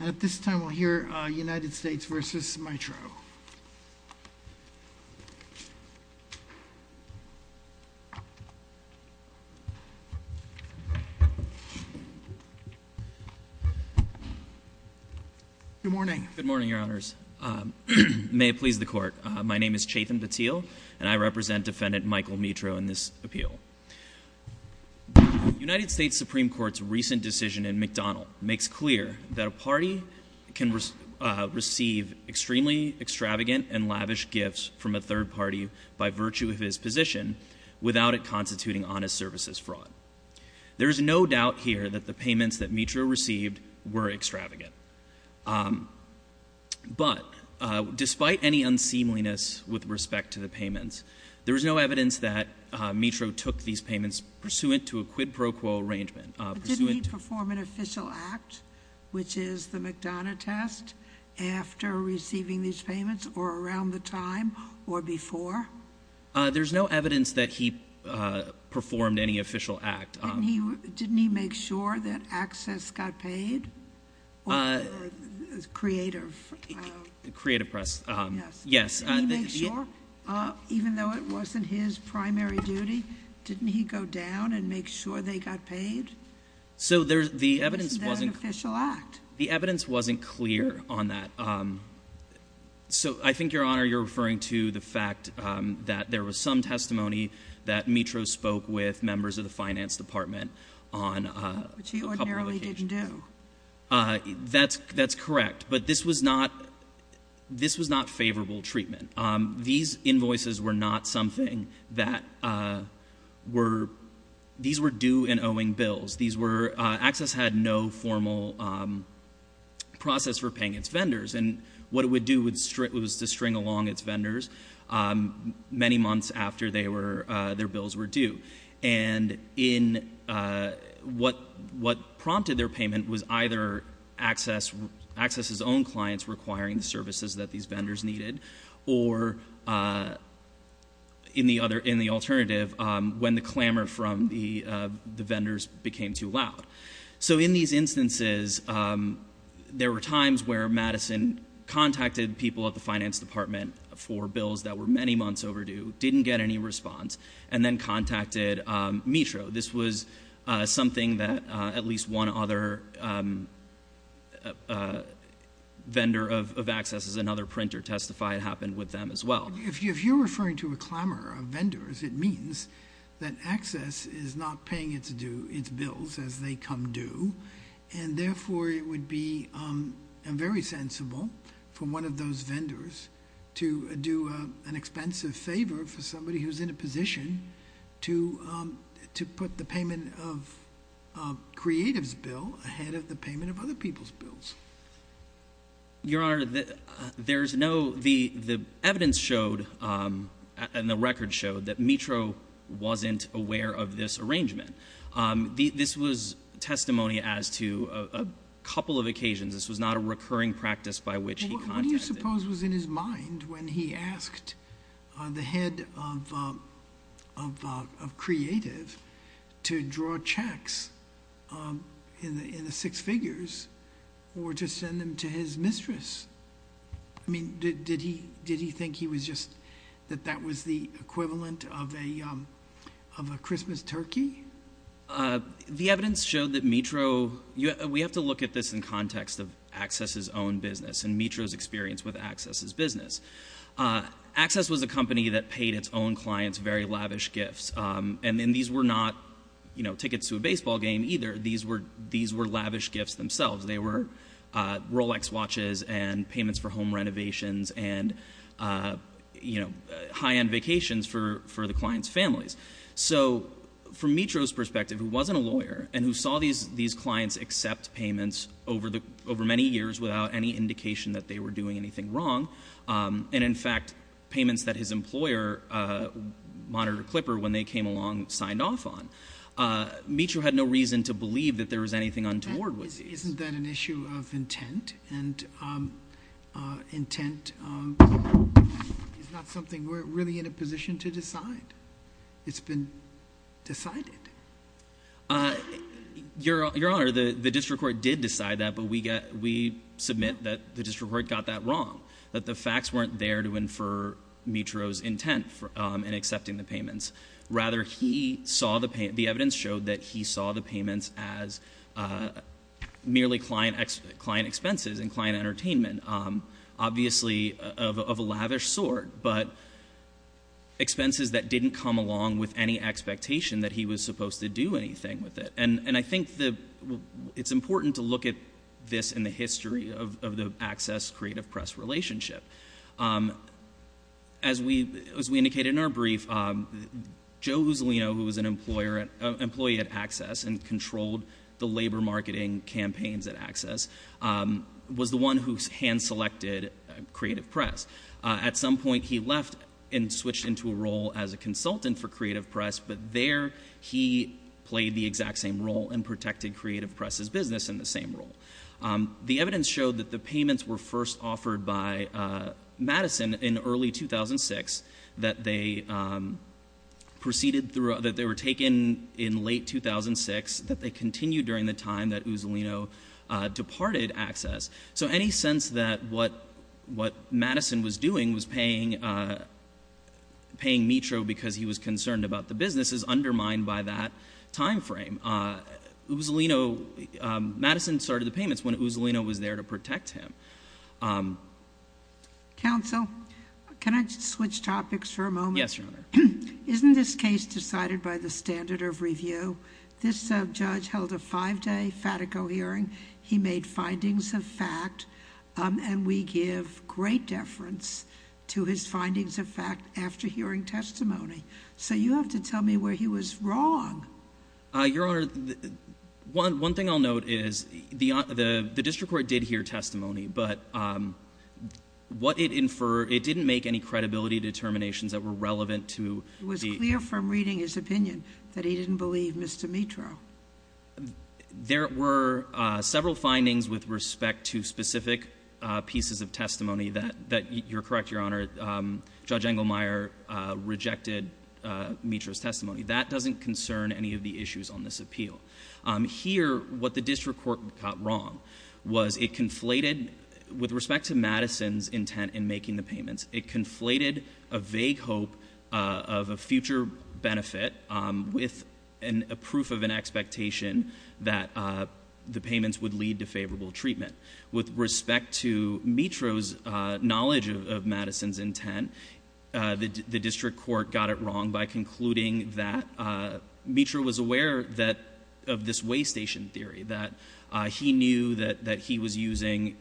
At this time, we'll hear United States v. Mitro. Good morning. Good morning, Your Honors. May it please the Court. My name is Chetan Patil, and I represent Defendant Michael Mitro in this appeal. The United States Supreme Court's recent decision in McDonald makes clear that a party can receive extremely extravagant and lavish gifts from a third party by virtue of his position without it constituting honest services fraud. There is no doubt here that the payments that Mitro received were extravagant. But despite any unseemliness with respect to the payments, there is no evidence that Mitro took these payments pursuant to a quid pro quo arrangement. Didn't he perform an official act, which is the McDonough test, after receiving these payments or around the time or before? There's no evidence that he performed any official act. Didn't he make sure that access got paid? Creative. Creative press. Yes. Yes. Didn't he make sure, even though it wasn't his primary duty, didn't he go down and make sure they got paid? So the evidence wasn't clear on that. So I think, Your Honor, you're referring to the fact that there was some testimony that Mitro spoke with members of the finance department on a couple of occasions. That's correct. But this was not favorable treatment. These invoices were not something that were — these were due and owing bills. These were — access had no formal process for paying its vendors. And what it would do was to string along its vendors many months after their bills were due. And in — what prompted their payment was either access's own clients requiring the services that these vendors needed, or, in the alternative, when the clamor from the vendors became too loud. So in these instances, there were times where Madison contacted people at the finance department for bills that were many months overdue, didn't get any response, and then contacted Mitro. This was something that at least one other vendor of access's, another printer, testified happened with them as well. If you're referring to a clamor of vendors, it means that access is not paying its bills as they come due. And therefore, it would be very sensible for one of those vendors to do an expensive favor for somebody who's in a position to put the payment of a creative's bill ahead of the payment of other people's bills. Your Honor, there's no — the evidence showed and the record showed that Mitro wasn't aware of this arrangement. This was testimony as to a couple of occasions. This was not a recurring practice by which he contacted — But what do you suppose was in his mind when he asked the head of creative to draw checks in the six figures or to send them to his mistress? I mean, did he think he was just — that that was the equivalent of a Christmas turkey? The evidence showed that Mitro — we have to look at this in context of access's own business and Mitro's experience with access's business. Access was a company that paid its own clients very lavish gifts. And these were not, you know, tickets to a baseball game either. These were lavish gifts themselves. They were Rolex watches and payments for home renovations and, you know, high-end vacations for the client's families. So from Mitro's perspective, who wasn't a lawyer and who saw these clients accept payments over many years without any indication that they were doing anything wrong, and in fact payments that his employer, Monitor Clipper, when they came along signed off on, Mitro had no reason to believe that there was anything untoward with these. Isn't that an issue of intent? And intent is not something we're really in a position to decide. It's been decided. Your Honor, the district court did decide that, but we submit that the district court got that wrong, that the facts weren't there to infer Mitro's intent in accepting the payments. Rather, the evidence showed that he saw the payments as merely client expenses and client entertainment, obviously of a lavish sort, but expenses that didn't come along with any expectation that he was supposed to do anything with it. And I think it's important to look at this in the history of the Access-Creative Press relationship. As we indicated in our brief, Joe Uzzolino, who was an employee at Access and controlled the labor marketing campaigns at Access, was the one who hand-selected Creative Press. At some point he left and switched into a role as a consultant for Creative Press, but there he played the exact same role and protected Creative Press's business in the same role. The evidence showed that the payments were first offered by Madison in early 2006, that they were taken in late 2006, that they continued during the time that Uzzolino departed Access. So any sense that what Madison was doing was paying Mitro because he was concerned about the business is undermined by that time frame. Madison started the payments when Uzzolino was there to protect him. Counsel, can I switch topics for a moment? Yes, Your Honor. Isn't this case decided by the standard of review? This judge held a five-day Fatico hearing. He made findings of fact, and we give great deference to his findings of fact after hearing testimony. So you have to tell me where he was wrong. Your Honor, one thing I'll note is the district court did hear testimony, but what it inferred, it didn't make any credibility determinations that were relevant to the— It was clear from reading his opinion that he didn't believe Mr. Mitro. There were several findings with respect to specific pieces of testimony that, you're correct, Your Honor, that doesn't concern any of the issues on this appeal. Here, what the district court got wrong was it conflated, with respect to Madison's intent in making the payments, it conflated a vague hope of a future benefit with a proof of an expectation that the payments would lead to favorable treatment. With respect to Mitro's knowledge of Madison's intent, the district court got it wrong by concluding that Mitro was aware of this waystation theory, that he knew that he was using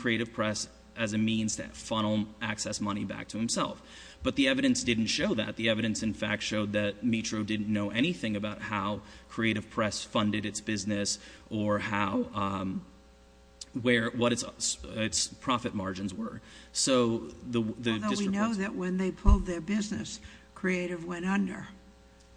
creative press as a means to funnel access money back to himself. But the evidence didn't show that. The evidence, in fact, showed that Mitro didn't know anything about how creative press funded its business or what its profit margins were. Although we know that when they pulled their business, creative went under,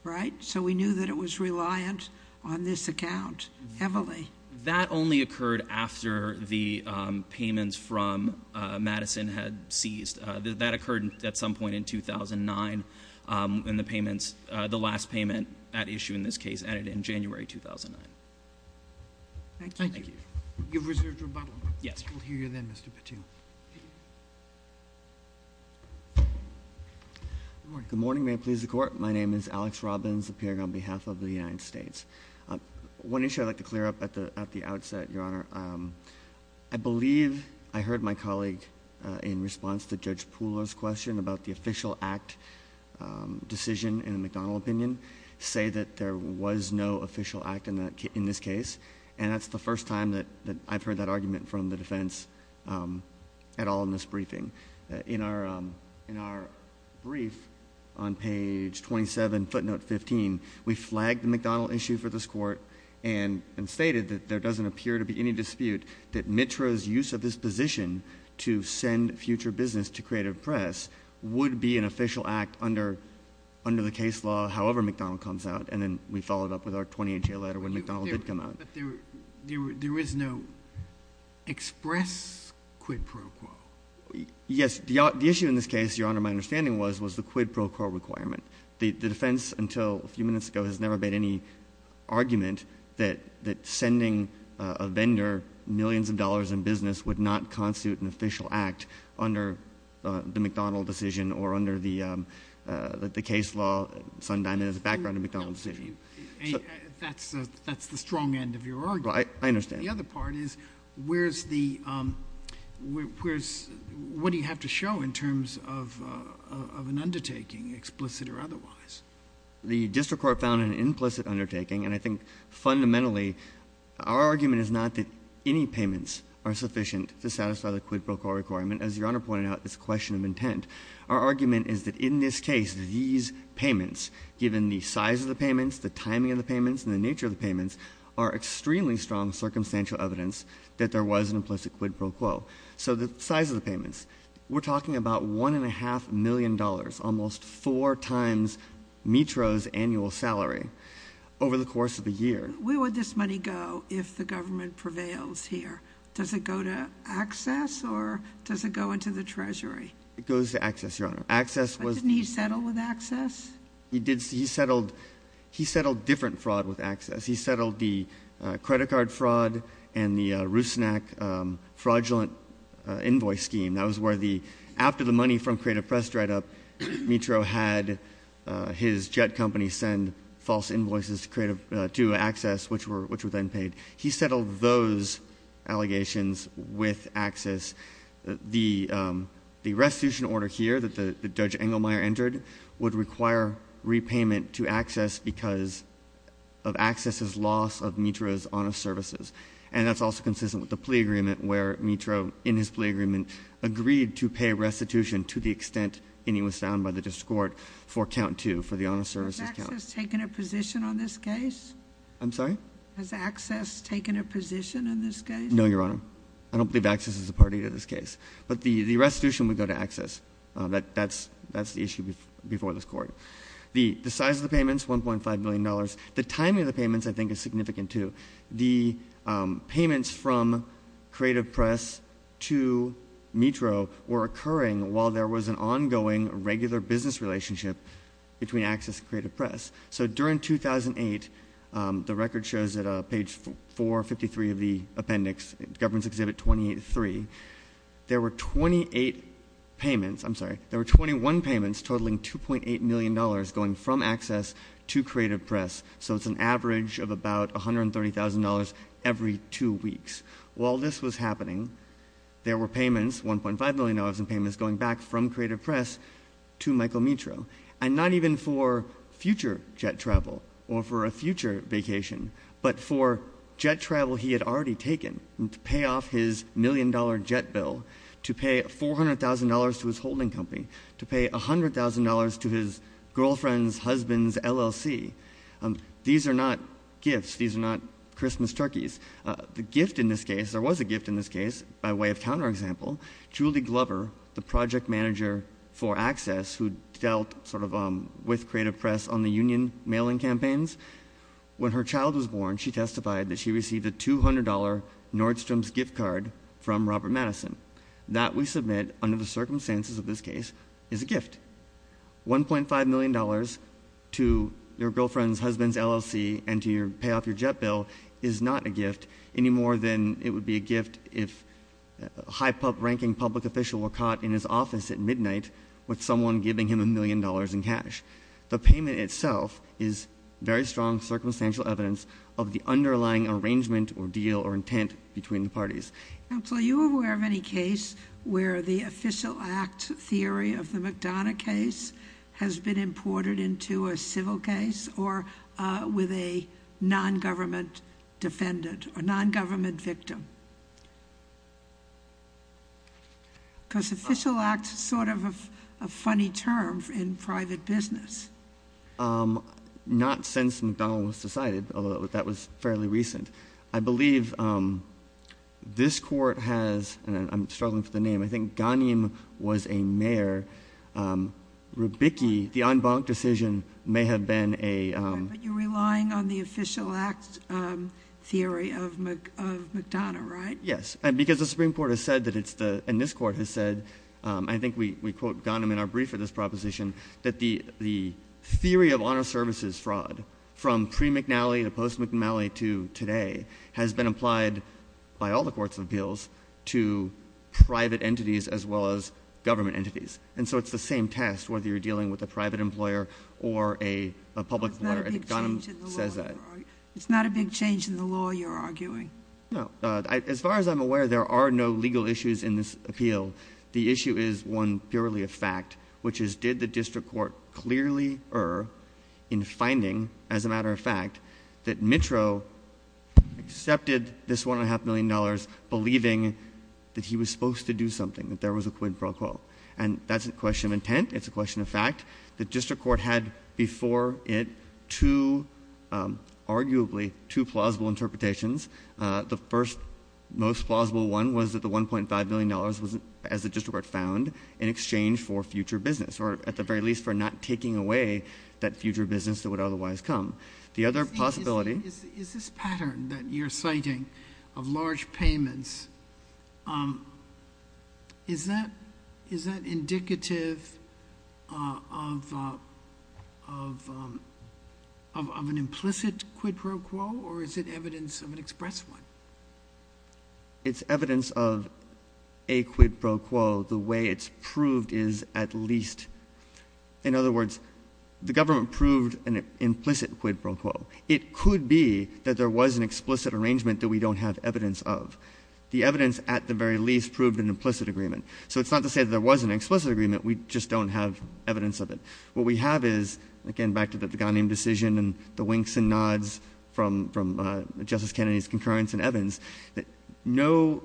right? So we knew that it was reliant on this account heavily. That only occurred after the payments from Madison had seized. That occurred at some point in 2009. And the payments, the last payment at issue in this case, ended in January 2009. Thank you. Thank you. You've reserved rebuttal. Yes. We'll hear you then, Mr. Patil. Good morning. Good morning. May it please the Court. My name is Alex Robbins, appearing on behalf of the United States. One issue I'd like to clear up at the outset, Your Honor. I believe I heard my colleague in response to Judge Pooler's question about the official act decision in the McDonnell opinion say that there was no official act in this case. And that's the first time that I've heard that argument from the defense at all in this briefing. In our brief on page 27, footnote 15, we flagged the McDonnell issue for this Court and stated that there doesn't appear to be any dispute that MITRA's use of this position to send future business to creative press would be an official act under the case law, however McDonnell comes out. And then we followed up with our 2018 letter when McDonnell did come out. But there is no express quid pro quo. Yes. The issue in this case, Your Honor, my understanding was, was the quid pro quo requirement. The defense until a few minutes ago has never made any argument that sending a vendor millions of dollars in business would not constitute an official act under the McDonnell decision or under the case law. Sundin has a background in the McDonnell decision. That's the strong end of your argument. I understand. The other part is where's the, what do you have to show in terms of an undertaking, explicit or otherwise? The district court found an implicit undertaking and I think fundamentally our argument is not that any payments are sufficient to satisfy the quid pro quo requirement. As Your Honor pointed out, it's a question of intent. Our argument is that in this case, these payments, given the size of the payments, the timing of the payments and the nature of the payments are extremely strong circumstantial evidence that there was an implicit quid pro quo. So the size of the payments, we're talking about one and a half million dollars, almost four times Metro's annual salary over the course of a year. Where would this money go if the government prevails here? Does it go to access or does it go into the treasury? It goes to access, Your Honor. But didn't he settle with access? He settled different fraud with access. He settled the credit card fraud and the Rusnak fraudulent invoice scheme. That was where the, after the money from Creative Press dried up, Metro had his jet company send false invoices to creative, to access, which were then paid. He settled those allegations with access. The restitution order here that Judge Engelmeyer entered would require repayment to access because of access's loss of Metro's honest services. And that's also consistent with the plea agreement where Metro, in his plea agreement, agreed to pay restitution to the extent any was found by the district court for count two, for the honest services count. Has access taken a position on this case? I'm sorry? Has access taken a position on this case? No, Your Honor. I don't believe access is a party to this case. But the restitution would go to access. That's the issue before this court. The size of the payments, $1.5 million. The timing of the payments, I think, is significant, too. The payments from Creative Press to Metro were occurring while there was an ongoing regular business relationship between access and Creative Press. So during 2008, the record shows at page 453 of the appendix, government's exhibit 28-3, there were 28 payments. I'm sorry. There were 21 payments totaling $2.8 million going from access to Creative Press. So it's an average of about $130,000 every two weeks. While this was happening, there were payments, $1.5 million in payments, going back from Creative Press to Michael Metro. And not even for future jet travel or for a future vacation, but for jet travel he had already taken to pay off his million-dollar jet bill, to pay $400,000 to his holding company, to pay $100,000 to his girlfriend's husband's LLC. These are not gifts. These are not Christmas turkeys. The gift in this case, there was a gift in this case by way of counterexample. Julie Glover, the project manager for access who dealt sort of with Creative Press on the union mailing campaigns, when her child was born, she testified that she received a $200 Nordstrom's gift card from Robert Madison. That, we submit, under the circumstances of this case, is a gift. $1.5 million to your girlfriend's husband's LLC and to pay off your jet bill is not a gift any more than it would be a gift if a high-ranking public official were caught in his office at midnight with someone giving him a million dollars in cash. The payment itself is very strong circumstantial evidence of the underlying arrangement or deal or intent between the parties. Counsel, are you aware of any case where the official act theory of the McDonough case has been imported into a civil case or with a non-government defendant or non-government victim? Because official act is sort of a funny term in private business. Not since McDonough was decided, although that was fairly recent. I believe this court has, and I'm struggling for the name, I think Ghanem was a mayor. Rubicki, the en banc decision, may have been a... But you're relying on the official act theory of McDonough, right? Yes, because the Supreme Court has said that it's the, and this court has said, I think we quote Ghanem in our brief for this proposition, that the theory of honor services fraud from pre-McNally to post-McNally to today has been applied by all the courts of appeals to private entities as well as government entities. And so it's the same test whether you're dealing with a private employer or a public employer. It's not a big change in the law you're arguing. No. As far as I'm aware, there are no legal issues in this appeal. The issue is one purely of fact, which is did the district court clearly err in finding, as a matter of fact, that Mitro accepted this $1.5 million believing that he was supposed to do something, that there was a quid pro quo. And that's a question of intent. It's a question of fact. The district court had before it two, arguably, two plausible interpretations. The first most plausible one was that the $1.5 million was, as the district court found, in exchange for future business or, at the very least, for not taking away that future business that would otherwise come. The other possibility. Is this pattern that you're citing of large payments, is that indicative of an implicit quid pro quo or is it evidence of an express one? It's evidence of a quid pro quo. The way it's proved is at least. In other words, the government proved an implicit quid pro quo. It could be that there was an explicit arrangement that we don't have evidence of. The evidence, at the very least, proved an implicit agreement. So it's not to say that there was an explicit agreement. We just don't have evidence of it. What we have is, again, back to the Ghanim decision and the winks and nods from Justice Kennedy's concurrence in Evans, that no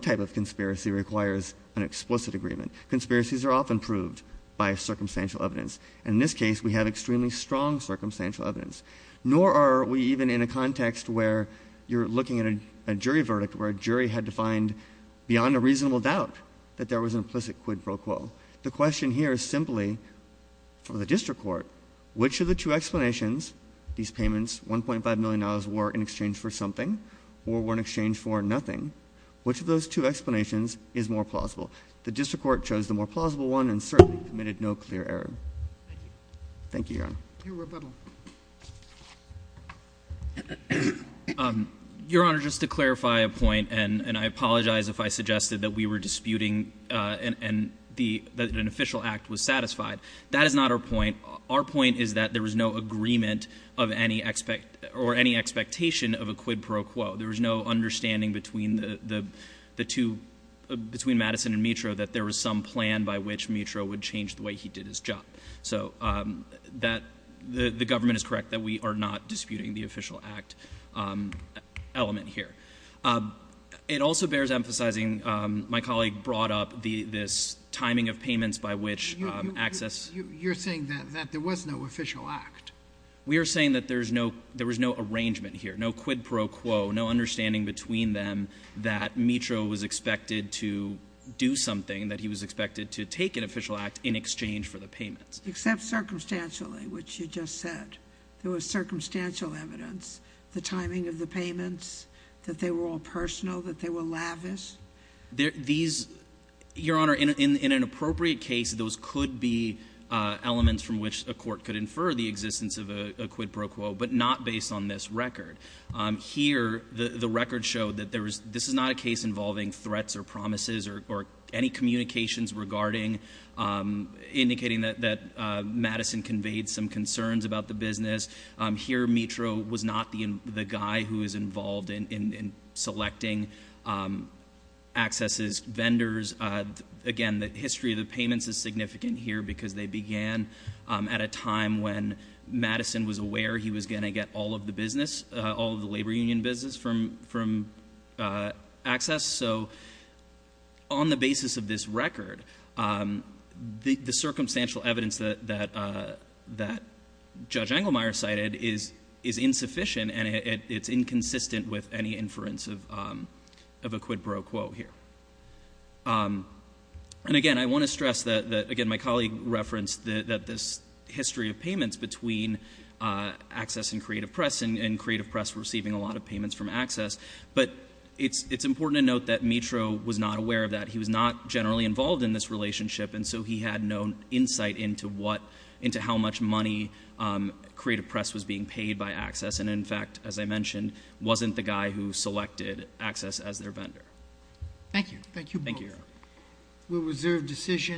type of conspiracy requires an explicit agreement. Conspiracies are often proved by circumstantial evidence. And in this case, we have extremely strong circumstantial evidence. Nor are we even in a context where you're looking at a jury verdict, where a jury had to find beyond a reasonable doubt that there was an implicit quid pro quo. The question here is simply, for the district court, which of the two explanations, these payments, $1.5 million, were in exchange for something or were in exchange for nothing, which of those two explanations is more plausible? The district court chose the more plausible one and certainly committed no clear error. Thank you, Your Honor. Your rebuttal. Your Honor, just to clarify a point, and I apologize if I suggested that we were disputing and that an official act was satisfied. That is not our point. Our point is that there was no agreement or any expectation of a quid pro quo. There was no understanding between Madison and Mitro that there was some plan by which Mitro would change the way he did his job. So that the government is correct that we are not disputing the official act element here. It also bears emphasizing, my colleague brought up this timing of payments by which access. You're saying that there was no official act. We are saying that there was no arrangement here, no quid pro quo, no understanding between them that Mitro was expected to do something, that he was expected to take an official act in exchange for the payments. Except circumstantially, which you just said. There was circumstantial evidence. The timing of the payments, that they were all personal, that they were lavish. These, Your Honor, in an appropriate case, those could be elements from which a court could infer the existence of a quid pro quo, but not based on this record. Here, the record showed that this is not a case involving threats or promises or any communications regarding, indicating that Madison conveyed some concerns about the business. Here, Mitro was not the guy who was involved in selecting access's vendors. Again, the history of the payments is significant here because they began at a time when Madison was aware he was going to get all of the business, all of the labor union business from access. So, on the basis of this record, the circumstantial evidence that Judge Engelmeyer cited is insufficient and it's inconsistent with any inference of a quid pro quo here. And again, I want to stress that, again, my colleague referenced that this history of payments between access and creative press, and creative press receiving a lot of payments from access. But it's important to note that Mitro was not aware of that. He was not generally involved in this relationship, and so he had no insight into how much money creative press was being paid by access. And in fact, as I mentioned, wasn't the guy who selected access as their vendor. Thank you. Thank you both. Thank you. We'll reserve decision.